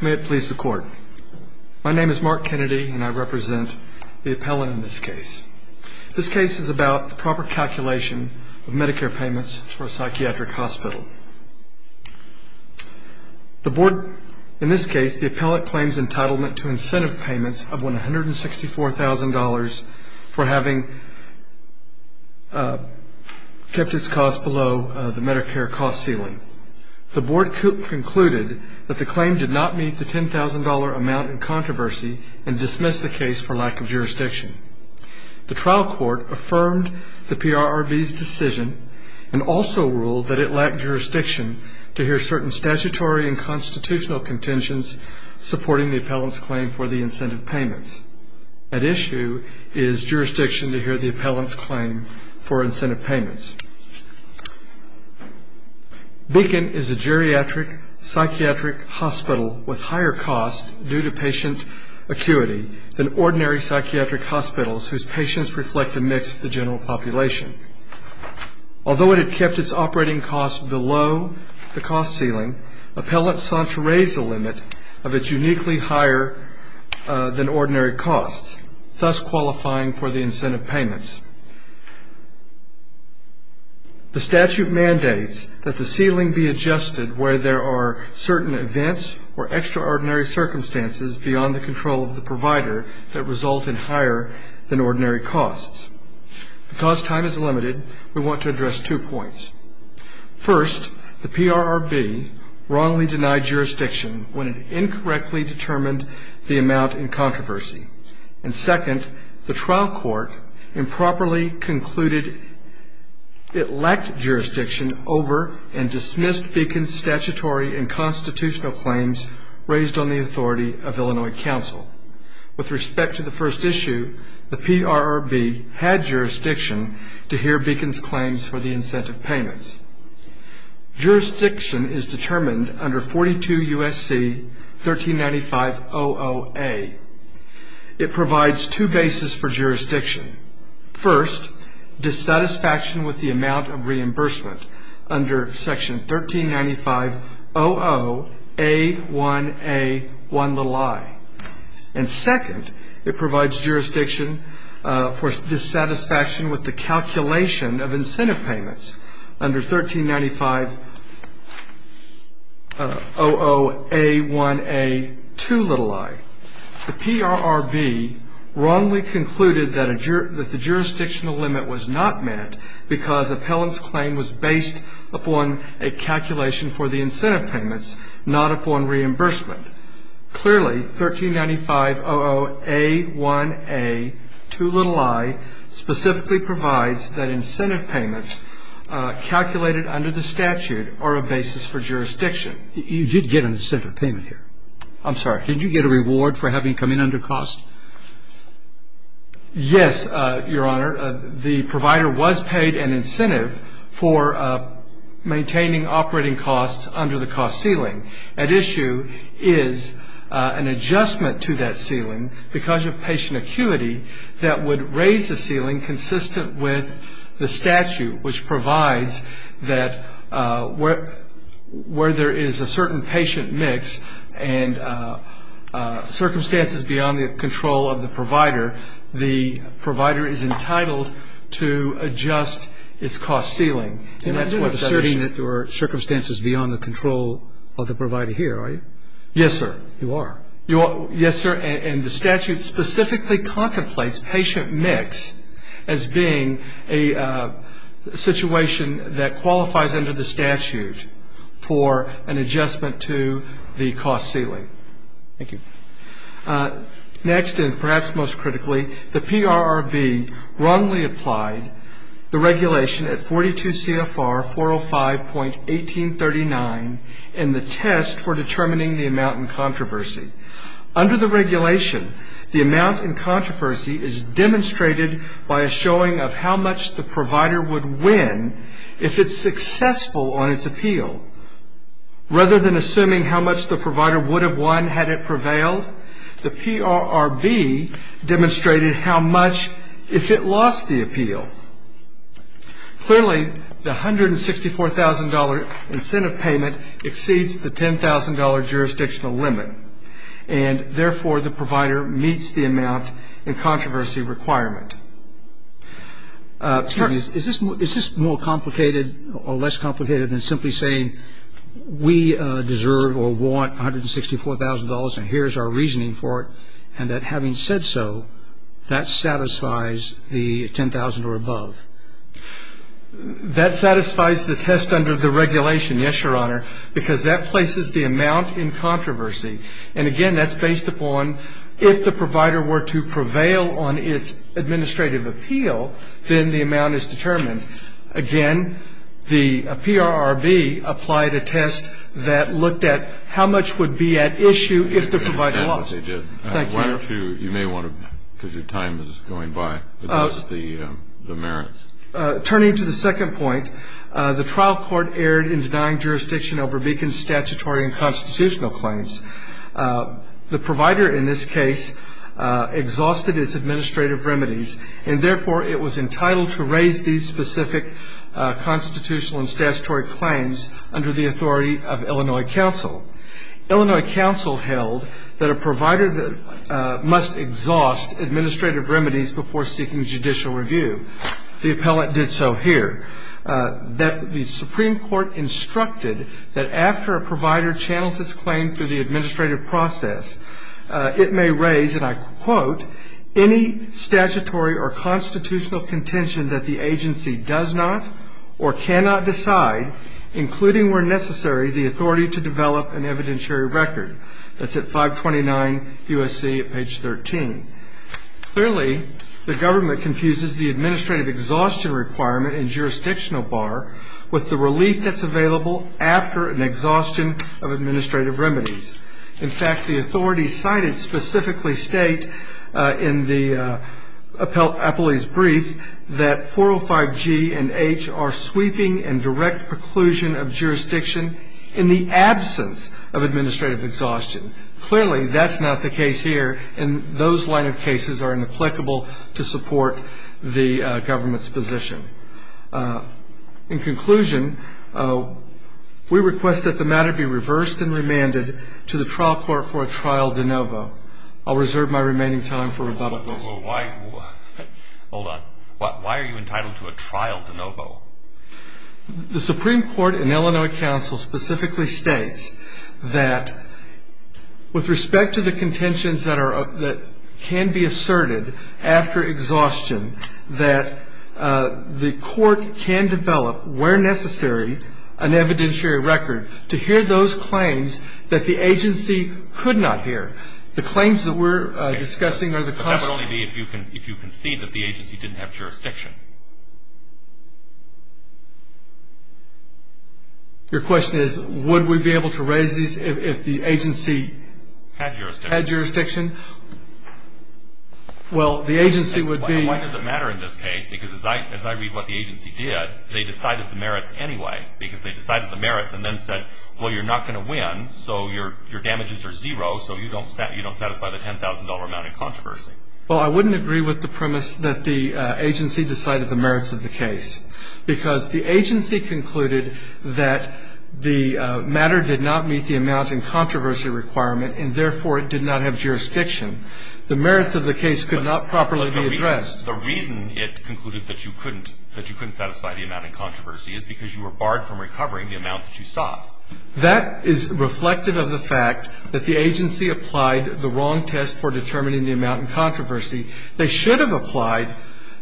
May it please the Court. My name is Mark Kennedy, and I represent the appellant in this case. This case is about the proper calculation of Medicare payments for a psychiatric hospital. In this case, the appellant claims entitlement to incentive payments of $164,000 for having kept its costs below the Medicare cost ceiling. The Board concluded that the claim did not meet the $10,000 amount in controversy and dismissed the case for lack of jurisdiction. The trial court affirmed the PRRB's decision and also ruled that it lacked jurisdiction to hear certain statutory and constitutional contentions supporting the appellant's claim for the incentive payments. At issue is jurisdiction to hear the appellant's claim for incentive payments. Beacon is a geriatric psychiatric hospital with higher costs due to patient acuity than ordinary psychiatric hospitals whose patients reflect a mix of the general population. Although it had kept its operating costs below the cost ceiling, appellants sought to raise the limit of its uniquely higher than ordinary costs, thus qualifying for the incentive payments. The statute mandates that the ceiling be adjusted where there are certain events or extraordinary circumstances beyond the control of the provider that result in higher than ordinary costs. Because time is limited, we want to address two points. First, the PRRB wrongly denied jurisdiction when it incorrectly determined the amount in controversy and second, the trial court improperly concluded it lacked jurisdiction over and dismissed Beacon's statutory and constitutional claims raised on the authority of Illinois Council. With respect to the first issue, the PRRB had jurisdiction to hear Beacon's claims for the incentive payments. Jurisdiction is determined under 42 U.S.C. 139500A. It provides two bases for jurisdiction. First, dissatisfaction with the amount of reimbursement under section 139500A1A1i and second, it provides jurisdiction for dissatisfaction with the calculation of incentive payments under 139500A1A2i. The PRRB wrongly concluded that the jurisdictional limit was not met because appellant's claim was based upon a calculation for the incentive payments, not upon reimbursement. Clearly, 139500A1A2i specifically provides that incentive payments calculated under the statute are a basis for jurisdiction. You did get an incentive payment here. I'm sorry. Did you get a reward for having come in under cost? Yes, Your Honor. The provider was paid an incentive for maintaining operating costs under the cost ceiling. At issue is an adjustment to that ceiling because of patient acuity that would raise the ceiling consistent with the statute, which provides that where there is a certain patient mix and circumstances beyond the control of the provider, the provider is entitled to adjust its cost ceiling. And that's what asserting that there are circumstances beyond the control of the provider here, are you? Yes, sir. You are. Yes, sir. And the statute specifically contemplates patient mix as being a situation that qualifies under the statute for an adjustment to the cost ceiling. Thank you. Next, and perhaps most critically, the PRRB wrongly applied the regulation at 42 CFR 405.1839 in the test for determining the amount in controversy. Under the regulation, the amount in controversy is demonstrated by a showing of how much the provider would win if it's successful on its appeal. Rather than assuming how much the provider would have won had it prevailed, the PRRB demonstrated how much if it lost the appeal. Clearly, the $164,000 incentive payment exceeds the $10,000 jurisdictional limit, and therefore the provider meets the amount in controversy requirement. Is this more complicated or less complicated than simply saying we deserve or want $164,000 and here's our reasoning for it, and that having said so, that satisfies the $10,000 or above? That satisfies the test under the regulation, yes, Your Honor, because that places the amount in controversy. And, again, that's based upon if the provider were to prevail on its administrative appeal, then the amount is determined. Again, the PRRB applied a test that looked at how much would be at issue if the provider lost it. I understand what they did. Thank you. Why don't you, you may want to, because your time is going by, discuss the merits. Turning to the second point, the trial court erred in denying jurisdiction over Beacon's statutory and constitutional claims. The provider in this case exhausted its administrative remedies, and therefore it was entitled to raise these specific constitutional and statutory claims under the authority of Illinois Council. Illinois Council held that a provider must exhaust administrative remedies before seeking judicial review. The appellate did so here. The Supreme Court instructed that after a provider channels its claim through the administrative process, it may raise, and I quote, any statutory or constitutional contention that the agency does not or cannot decide, including where necessary, the authority to develop an evidentiary record. That's at 529 U.S.C. at page 13. Clearly, the government confuses the administrative exhaustion requirement in jurisdictional bar with the relief that's available after an exhaustion of administrative remedies. In fact, the authorities cited specifically state in the appellate's brief that 405G and H are sweeping and direct preclusion of jurisdiction in the absence of administrative exhaustion. Clearly, that's not the case here, and those line of cases are inapplicable to support the government's position. In conclusion, we request that the matter be reversed and remanded to the trial court for a trial de novo. I'll reserve my remaining time for rebuttal. Hold on. Why are you entitled to a trial de novo? The Supreme Court in Illinois Council specifically states that with respect to the contentions that can be asserted after exhaustion that the court can develop, where necessary, an evidentiary record to hear those claims that the agency could not hear. The claims that we're discussing are the constant. But that would only be if you can see that the agency didn't have jurisdiction. Your question is, would we be able to raise these if the agency had jurisdiction? Well, the agency would be. Why does it matter in this case? Because as I read what the agency did, they decided the merits anyway, because they decided the merits and then said, well, you're not going to win, so your damages are zero, so you don't satisfy the $10,000 amount of controversy. Well, I wouldn't agree with the premise that the agency decided the merits of the case, because the agency concluded that the matter did not meet the amount in controversy requirement and, therefore, it did not have jurisdiction. The merits of the case could not properly be addressed. The reason it concluded that you couldn't satisfy the amount in controversy is because you were barred from recovering the amount that you sought. That is reflective of the fact that the agency applied the wrong test for determining the amount in controversy. They should have applied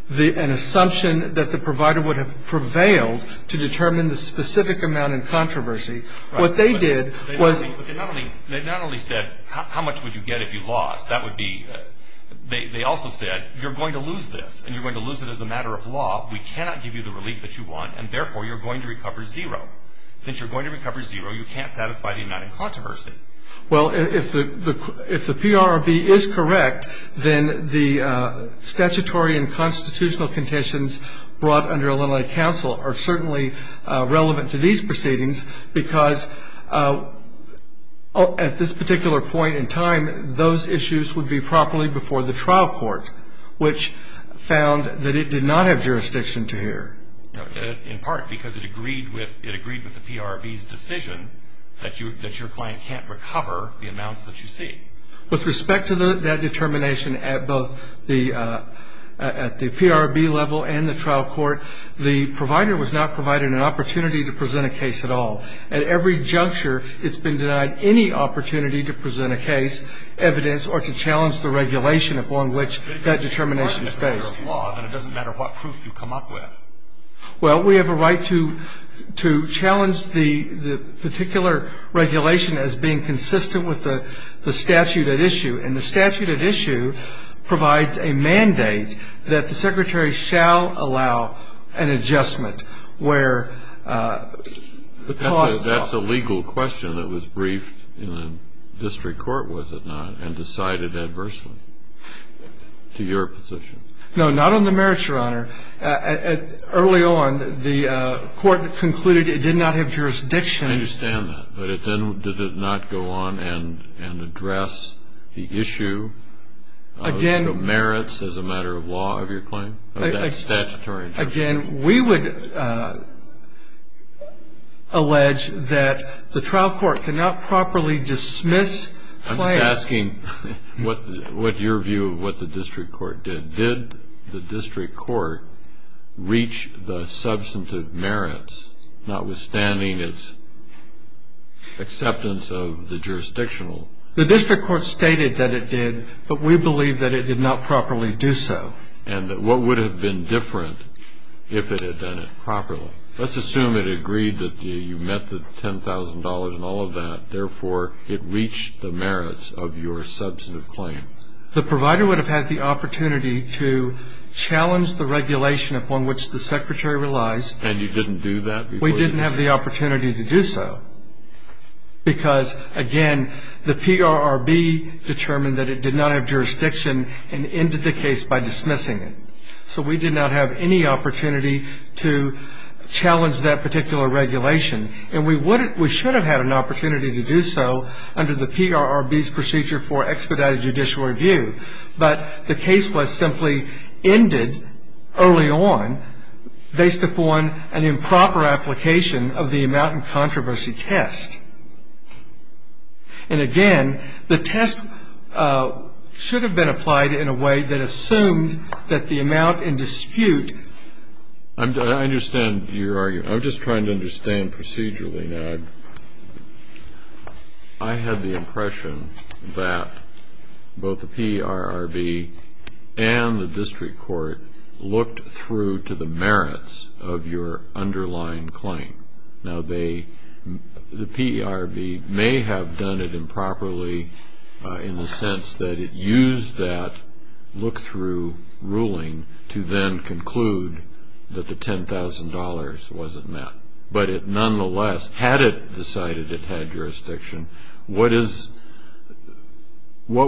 an assumption that the provider would have prevailed to determine the specific amount in controversy. What they did was they not only said, how much would you get if you lost? That would be they also said, you're going to lose this, and you're going to lose it as a matter of law. We cannot give you the relief that you want, and, therefore, you're going to recover zero. Since you're going to recover zero, you can't satisfy the amount in controversy. Well, if the PRB is correct, then the statutory and constitutional conditions brought under Illinois counsel are certainly relevant to these proceedings because at this particular point in time, those issues would be properly before the trial court, which found that it did not have jurisdiction to hear. In part because it agreed with the PRB's decision that your client can't recover the amounts that you seek. With respect to that determination at both the PRB level and the trial court, the provider was not provided an opportunity to present a case at all. At every juncture, it's been denied any opportunity to present a case, evidence, or to challenge the regulation upon which that determination is based. Well, we have a right to challenge the particular regulation as being consistent with the statute at issue, and the statute at issue provides a mandate that the Secretary shall allow an adjustment where costs are. But that's a legal question that was briefed in the district court, was it not, and decided adversely to your position. No, not on the merits, Your Honor. Early on, the court concluded it did not have jurisdiction. I understand that. But then did it not go on and address the issue of the merits as a matter of law of your claim, of that statutory adjustment? Again, we would allege that the trial court could not properly dismiss claims. I'm just asking what your view of what the district court did. Did the district court reach the substantive merits, notwithstanding its acceptance of the jurisdictional? The district court stated that it did, but we believe that it did not properly do so. And what would have been different if it had done it properly? Let's assume it agreed that you met the $10,000 and all of that, therefore it reached the merits of your substantive claim. The provider would have had the opportunity to challenge the regulation upon which the Secretary relies. And you didn't do that? We didn't have the opportunity to do so because, again, the PRRB determined that it did not have jurisdiction and ended the case by dismissing it. So we did not have any opportunity to challenge that particular regulation. And we should have had an opportunity to do so under the PRRB's procedure for expedited judicial review. But the case was simply ended early on based upon an improper application of the amount in controversy test. And, again, the test should have been applied in a way that assumed that the amount in dispute. I understand your argument. I'm just trying to understand procedurally now. I had the impression that both the PRRB and the district court looked through to the merits of your underlying claim. Now, the PRRB may have done it improperly in the sense that it used that look-through ruling to then conclude that the $10,000 wasn't met. But it nonetheless, had it decided it had jurisdiction, what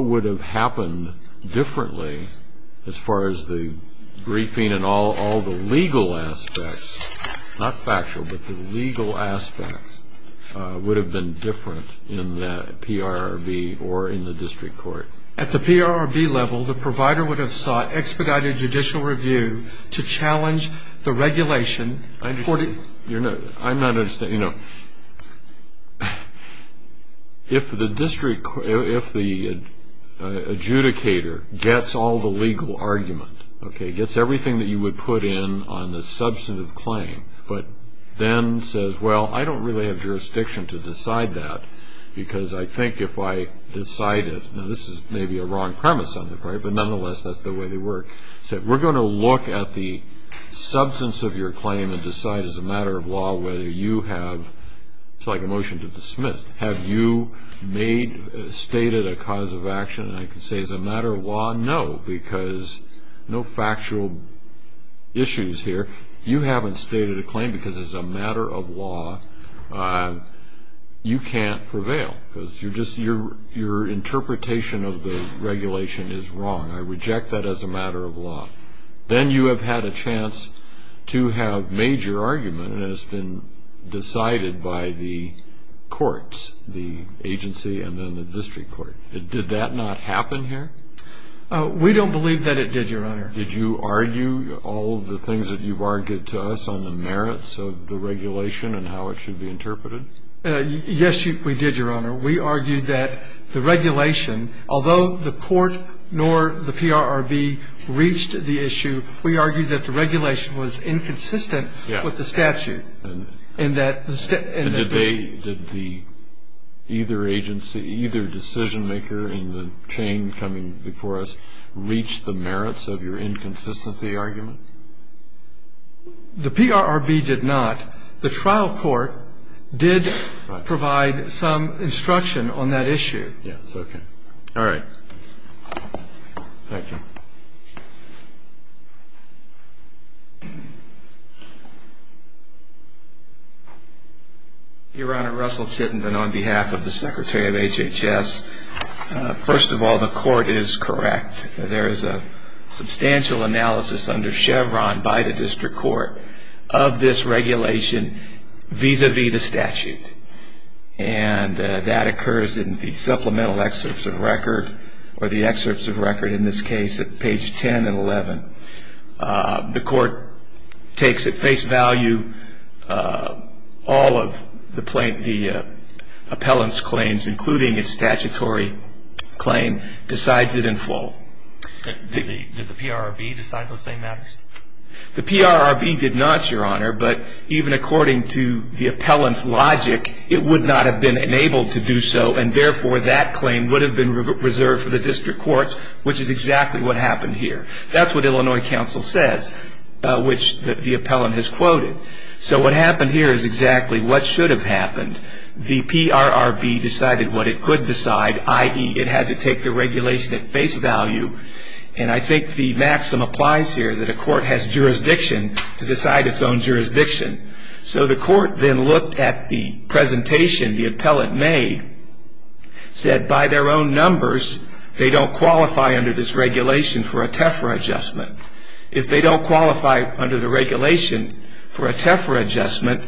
would have happened differently as far as the briefing and all the legal aspects, not factual, but the legal aspects would have been different in the PRRB or in the district court? At the PRRB level, the provider would have sought expedited judicial review to challenge the regulation. I'm not understanding. You know, if the district, if the adjudicator gets all the legal argument, okay, gets everything that you would put in on the substantive claim, but then says, well, I don't really have jurisdiction to decide that because I think if I decided, now this is maybe a wrong premise on the part, but nonetheless, that's the way they work. Say, we're going to look at the substance of your claim and decide as a matter of law whether you have, it's like a motion to dismiss. Have you made, stated a cause of action? And I can say as a matter of law, no, because no factual issues here. You haven't stated a claim because as a matter of law, you can't prevail because you're just, your interpretation of the regulation is wrong. I reject that as a matter of law. Then you have had a chance to have made your argument and it has been decided by the courts, the agency and then the district court. Did that not happen here? We don't believe that it did, Your Honor. Did you argue all of the things that you've argued to us on the merits of the regulation and how it should be interpreted? Yes, we did, Your Honor. We argued that the regulation, although the court nor the PRRB reached the issue, we argued that the regulation was inconsistent with the statute. Did the either agency, either decision maker in the chain coming before us, reach the merits of your inconsistency argument? The PRRB did not. The trial court did provide some instruction on that issue. Yes, okay. All right. Thank you. Your Honor, Russell Chittenden on behalf of the Secretary of HHS. First of all, the court is correct. There is a substantial analysis under Chevron by the district court of this regulation vis-à-vis the statute, and that occurs in the supplemental excerpts of record or the excerpts of record in this case at page 10 and 11. The court takes at face value all of the appellant's claims, including its statutory claim, decides it in full. Did the PRRB decide those same matters? The PRRB did not, Your Honor, but even according to the appellant's logic, it would not have been enabled to do so, and therefore that claim would have been reserved for the district court, which is exactly what happened here. That's what Illinois Council says, which the appellant has quoted. So what happened here is exactly what should have happened. The PRRB decided what it could decide, i.e., it had to take the regulation at face value, and I think the maxim applies here that a court has jurisdiction to decide its own jurisdiction. So the court then looked at the presentation the appellant made, said by their own numbers, they don't qualify under this regulation for a TEFRA adjustment. If they don't qualify under the regulation for a TEFRA adjustment,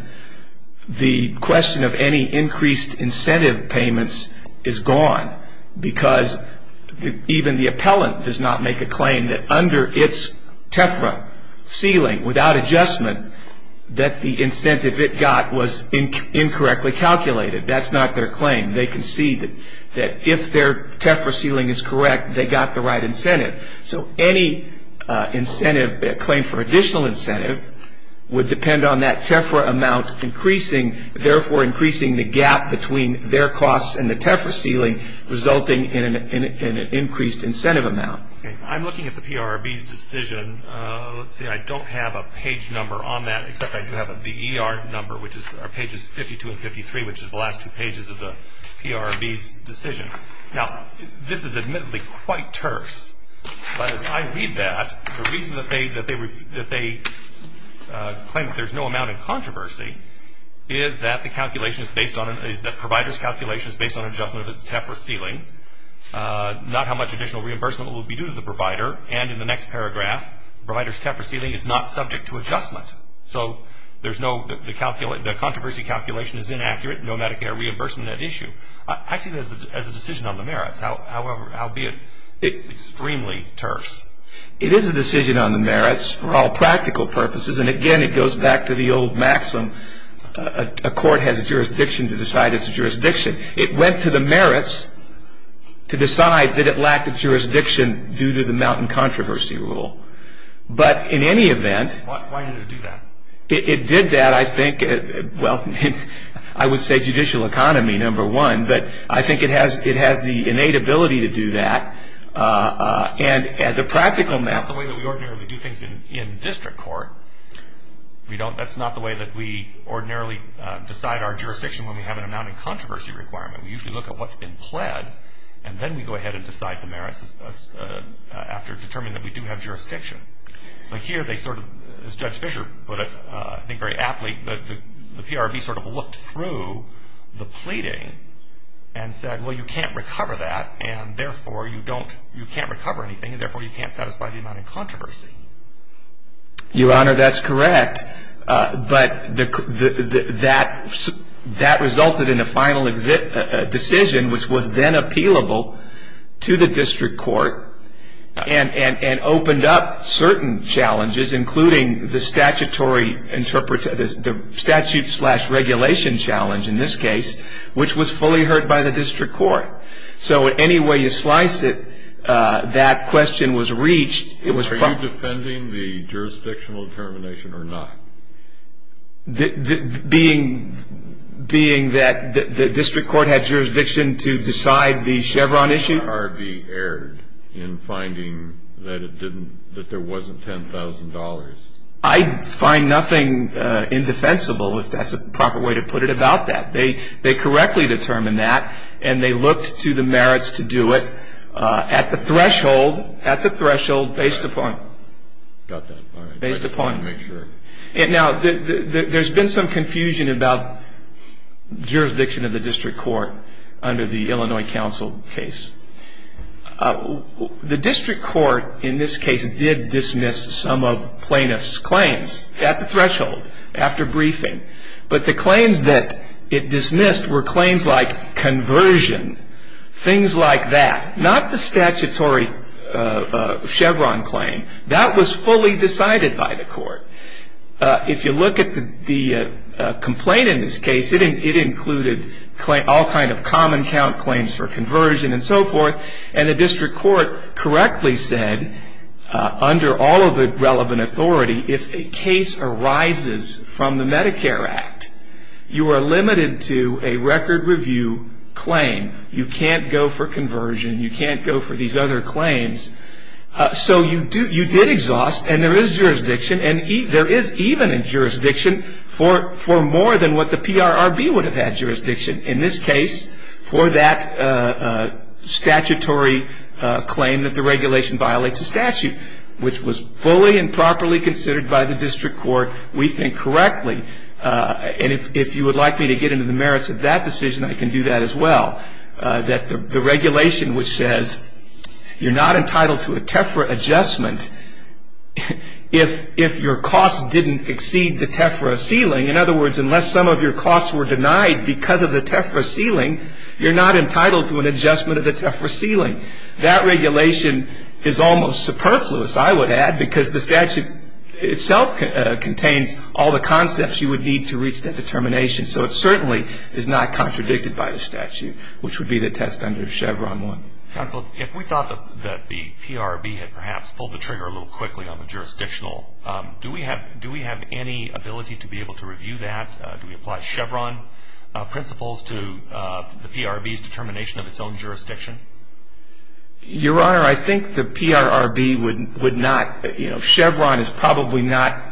the question of any increased incentive payments is gone because even the appellant does not make a claim that under its TEFRA ceiling without adjustment that the incentive it got was incorrectly calculated. That's not their claim. They concede that if their TEFRA ceiling is correct, they got the right incentive. So any incentive, claim for additional incentive, would depend on that TEFRA amount increasing, therefore increasing the gap between their costs and the TEFRA ceiling, resulting in an increased incentive amount. I'm looking at the PRRB's decision. Let's see, I don't have a page number on that, except I do have a BER number, which is pages 52 and 53, which is the last two pages of the PRRB's decision. Now, this is admittedly quite terse, but as I read that, the reason that they claim that there's no amount in controversy is that the calculation is based on, is the provider's calculation is based on adjustment of its TEFRA ceiling, not how much additional reimbursement will be due to the provider, and in the next paragraph, provider's TEFRA ceiling is not subject to adjustment. So there's no, the controversy calculation is inaccurate, no Medicare reimbursement at issue. I see that as a decision on the merits, however, albeit it's extremely terse. It is a decision on the merits for all practical purposes, and again, it goes back to the old maxim, a court has a jurisdiction to decide its jurisdiction. It went to the merits to decide that it lacked a jurisdiction due to the mountain controversy rule. But in any event. Why did it do that? It did that, I think, well, I would say judicial economy, number one, but I think it has the innate ability to do that, and as a practical matter. That's not the way that we ordinarily do things in district court. We don't, that's not the way that we ordinarily decide our jurisdiction when we have an amount in controversy requirement. We usually look at what's been pled, and then we go ahead and decide the merits after determining that we do have jurisdiction. So here they sort of, as Judge Fischer put it, I think very aptly, the PRB sort of looked through the pleading and said, well, you can't recover that, and therefore you don't, you can't recover anything, and therefore you can't satisfy the amount in controversy. Your Honor, that's correct. But that resulted in a final decision which was then appealable to the district court and opened up certain challenges, including the statutory, the statute slash regulation challenge in this case, which was fully heard by the district court. So any way you slice it, that question was reached. Are you defending the jurisdictional determination or not? Being that the district court had jurisdiction to decide the Chevron issue? The PRB erred in finding that it didn't, that there wasn't $10,000. I find nothing indefensible, if that's a proper way to put it, about that. They correctly determined that, and they looked to the merits to do it at the threshold, at the threshold based upon, based upon. Now, there's been some confusion about jurisdiction of the district court under the Illinois Council case. The district court in this case did dismiss some of Plaintiff's claims at the threshold after briefing, but the claims that it dismissed were claims like conversion, things like that, not the statutory Chevron claim. That was fully decided by the court. If you look at the complaint in this case, it included all kind of common count claims for conversion and so forth, and the district court correctly said, under all of the relevant authority, if a case arises from the Medicare Act, you are limited to a record review claim. You can't go for conversion. You can't go for these other claims. So you did exhaust, and there is jurisdiction, and there is even a jurisdiction for more than what the PRRB would have had jurisdiction in this case for that statutory claim that the regulation violates a statute, which was fully and properly considered by the district court, we think, correctly. And if you would like me to get into the merits of that decision, I can do that as well, that the regulation which says you're not entitled to a TEFRA adjustment if your cost didn't exceed the TEFRA ceiling. In other words, unless some of your costs were denied because of the TEFRA ceiling, you're not entitled to an adjustment of the TEFRA ceiling. That regulation is almost superfluous, I would add, because the statute itself contains all the concepts you would need to reach that determination. So it certainly is not contradicted by the statute, which would be the test under Chevron 1. Counsel, if we thought that the PRRB had perhaps pulled the trigger a little quickly on the jurisdictional, do we have any ability to be able to review that? Do we apply Chevron principles to the PRRB's determination of its own jurisdiction? Your Honor, I think the PRRB would not. You know, Chevron is probably not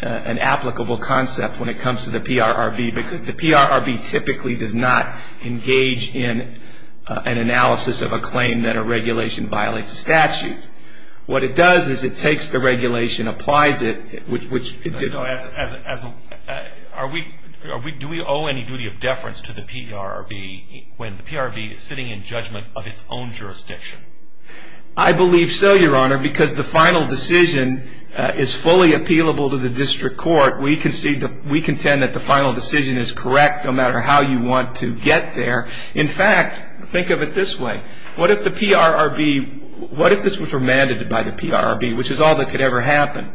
an applicable concept when it comes to the PRRB because the PRRB typically does not engage in an analysis of a claim that a regulation violates a statute. What it does is it takes the regulation, applies it, which it did not. Do we owe any duty of deference to the PRRB when the PRRB is sitting in judgment of its own jurisdiction? I believe so, Your Honor, because the final decision is fully appealable to the district court. We contend that the final decision is correct no matter how you want to get there. In fact, think of it this way. What if the PRRB, what if this was remanded by the PRRB, which is all that could ever happen?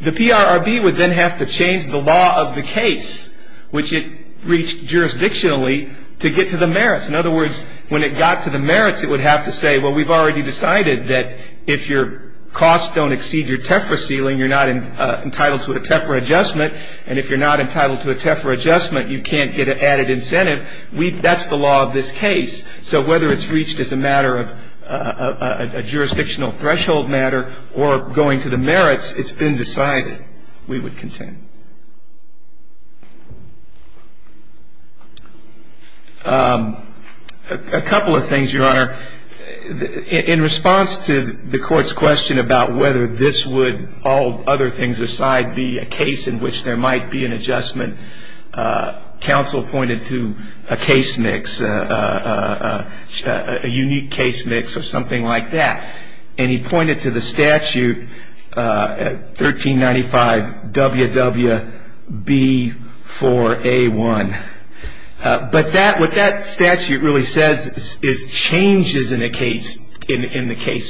The PRRB would then have to change the law of the case, which it reached jurisdictionally, to get to the merits. In other words, when it got to the merits, it would have to say, well, we've already decided that if your costs don't exceed your TEFRA ceiling, you're not entitled to a TEFRA adjustment, and if you're not entitled to a TEFRA adjustment, you can't get an added incentive. That's the law of this case. So whether it's reached as a jurisdictional threshold matter or going to the merits, it's been decided, we would contend. A couple of things, Your Honor. In response to the court's question about whether this would, all other things aside, be a case in which there might be an adjustment, counsel pointed to a case mix, a unique case mix or something like that. And he pointed to the statute 1395WWB4A1. But what that statute really says is changes in the case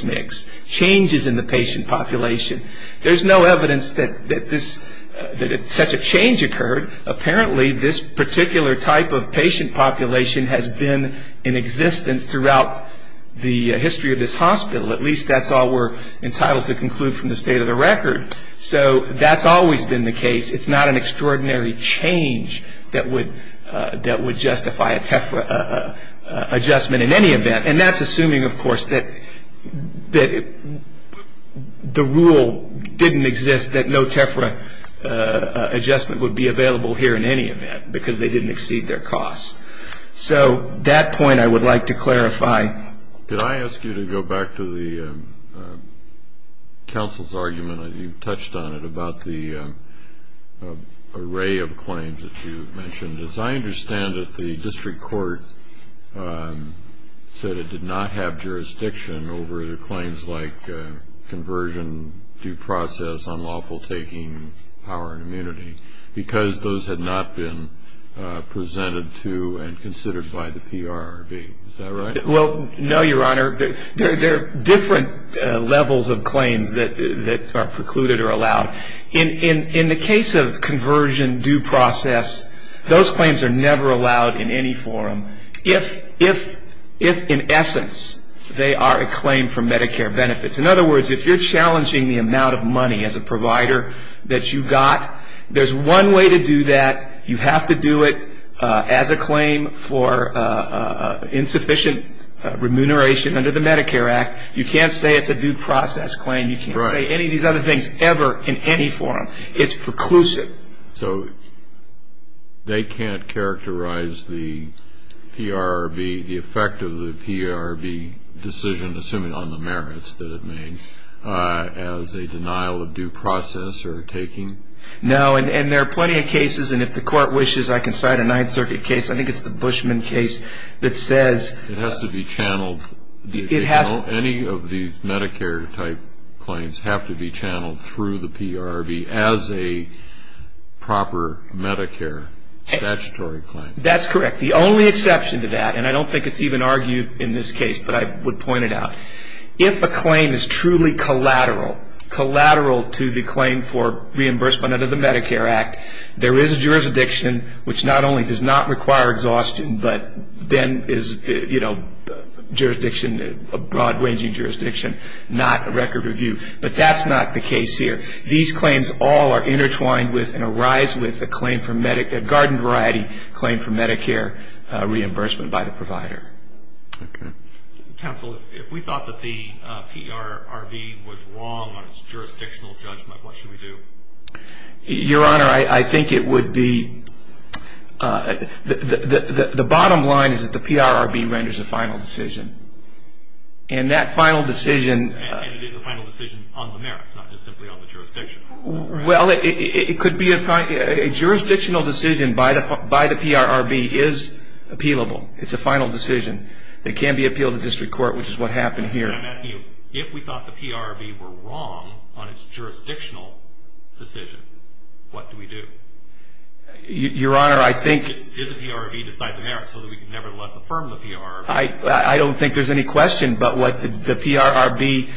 mix, changes in the patient population. There's no evidence that such a change occurred. Apparently, this particular type of patient population has been in existence throughout the history of this hospital. At least that's all we're entitled to conclude from the state of the record. So that's always been the case. It's not an extraordinary change that would justify a TEFRA adjustment in any event. And that's assuming, of course, that the rule didn't exist that no TEFRA adjustment would be available here in any event because they didn't exceed their costs. So that point I would like to clarify. Could I ask you to go back to the counsel's argument that you touched on about the array of claims that you mentioned? As I understand it, the district court said it did not have jurisdiction over the claims like conversion, due process, unlawful taking, power and immunity because those had not been presented to and considered by the PRRB. Is that right? Well, no, Your Honor. There are different levels of claims that are precluded or allowed. In the case of conversion, due process, those claims are never allowed in any forum if, in essence, they are a claim for Medicare benefits. In other words, if you're challenging the amount of money as a provider that you got, there's one way to do that. You have to do it as a claim for insufficient remuneration under the Medicare Act. You can't say it's a due process claim. You can't say any of these other things ever in any forum. It's preclusive. So they can't characterize the PRRB, the effect of the PRRB decision, assuming on the merits that it made, as a denial of due process or taking? No. And there are plenty of cases, and if the court wishes, I can cite a Ninth Circuit case. I think it's the Bushman case that says. It has to be channeled. Any of these Medicare-type claims have to be channeled through the PRRB as a proper Medicare statutory claim. That's correct. The only exception to that, and I don't think it's even argued in this case, but I would point it out. If a claim is truly collateral, collateral to the claim for reimbursement under the Medicare Act, there is a jurisdiction which not only does not require exhaustion, but then is, you know, jurisdiction, a broad-ranging jurisdiction, not a record review. But that's not the case here. These claims all are intertwined with and arise with a claim for Medicare, a garden variety claim for Medicare reimbursement by the provider. Okay. Counsel, if we thought that the PRRB was wrong on its jurisdictional judgment, what should we do? Your Honor, I think it would be the bottom line is that the PRRB renders a final decision, and that final decision. And it is a final decision on the merits, not just simply on the jurisdiction. Well, it could be a jurisdictional decision by the PRRB is appealable. It's a final decision. It can be appealed to district court, which is what happened here. Your Honor, I'm asking you, if we thought the PRRB were wrong on its jurisdictional decision, what do we do? Your Honor, I think. Did the PRRB decide the merits so that we can nevertheless affirm the PRRB? I don't think there's any question, but what the PRRB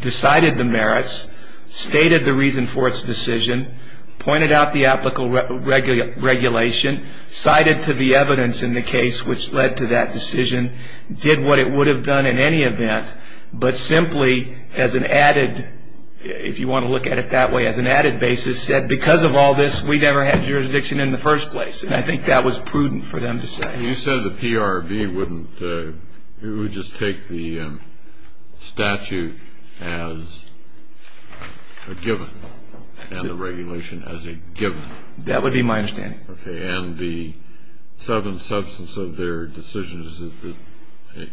decided the merits, stated the reason for its decision, pointed out the applicable regulation, cited to the evidence in the case which led to that decision, did what it would have done in any event, but simply as an added, if you want to look at it that way, as an added basis said, because of all this, we never had jurisdiction in the first place. And I think that was prudent for them to say. You said the PRRB wouldn't, it would just take the statute as a given and the regulation as a given. That would be my understanding. Okay. And the seventh substance of their decision is that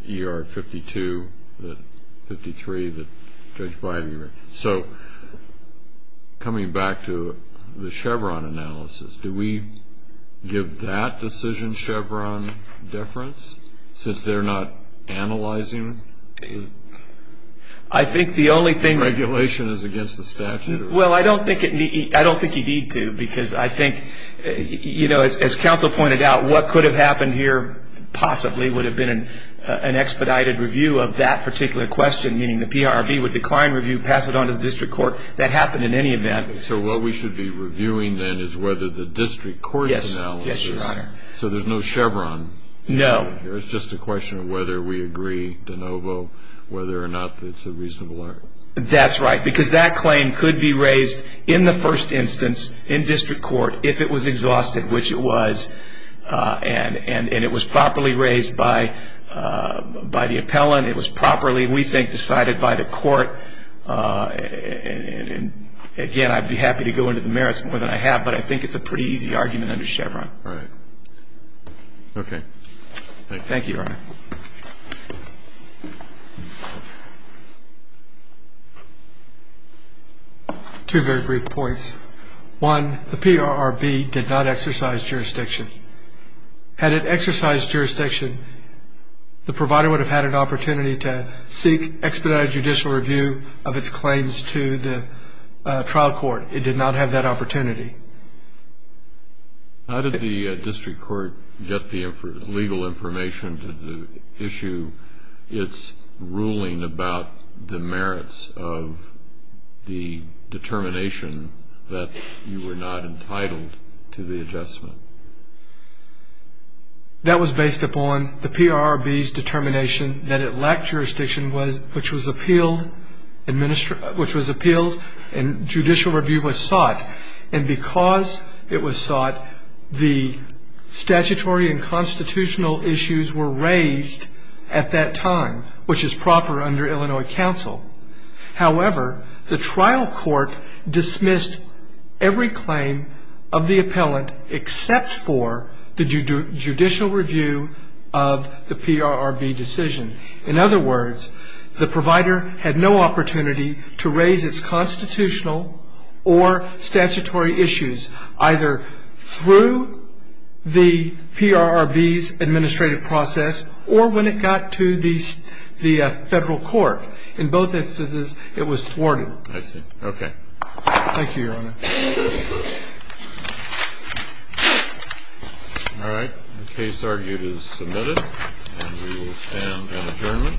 ER 52, 53 that Judge Bidey wrote. So coming back to the Chevron analysis, do we give that decision Chevron deference since they're not analyzing? I think the only thing. The regulation is against the statute? Well, I don't think you need to because I think, you know, as counsel pointed out, what could have happened here possibly would have been an expedited review of that particular question, meaning the PRRB would decline review, pass it on to the district court. That happened in any event. So what we should be reviewing then is whether the district court's analysis. Yes, Your Honor. So there's no Chevron? No. It's just a question of whether we agree de novo, whether or not it's a reasonable argument. That's right, because that claim could be raised in the first instance in district court if it was exhausted, which it was, and it was properly raised by the appellant. It was properly, we think, decided by the court. And, again, I'd be happy to go into the merits more than I have, but I think it's a pretty easy argument under Chevron. Okay. Thank you, Your Honor. Two very brief points. One, the PRRB did not exercise jurisdiction. Had it exercised jurisdiction, the provider would have had an opportunity to seek expedited judicial review of its claims to the trial court. It did not have that opportunity. How did the district court get the legal information to issue its ruling about the merits of the determination that you were not entitled to the adjustment? That was based upon the PRRB's determination that it lacked jurisdiction, which was appealed and judicial review was sought. And because it was sought, the statutory and constitutional issues were raised at that time, which is proper under Illinois counsel. However, the trial court dismissed every claim of the appellant except for the judicial review of the PRRB decision. In other words, the provider had no opportunity to raise its constitutional or statutory issues, either through the PRRB's administrative process or when it got to the federal court. In both instances, it was thwarted. I see. Okay. Thank you, Your Honor. All right. The case argued is submitted. And we will stand on adjournment.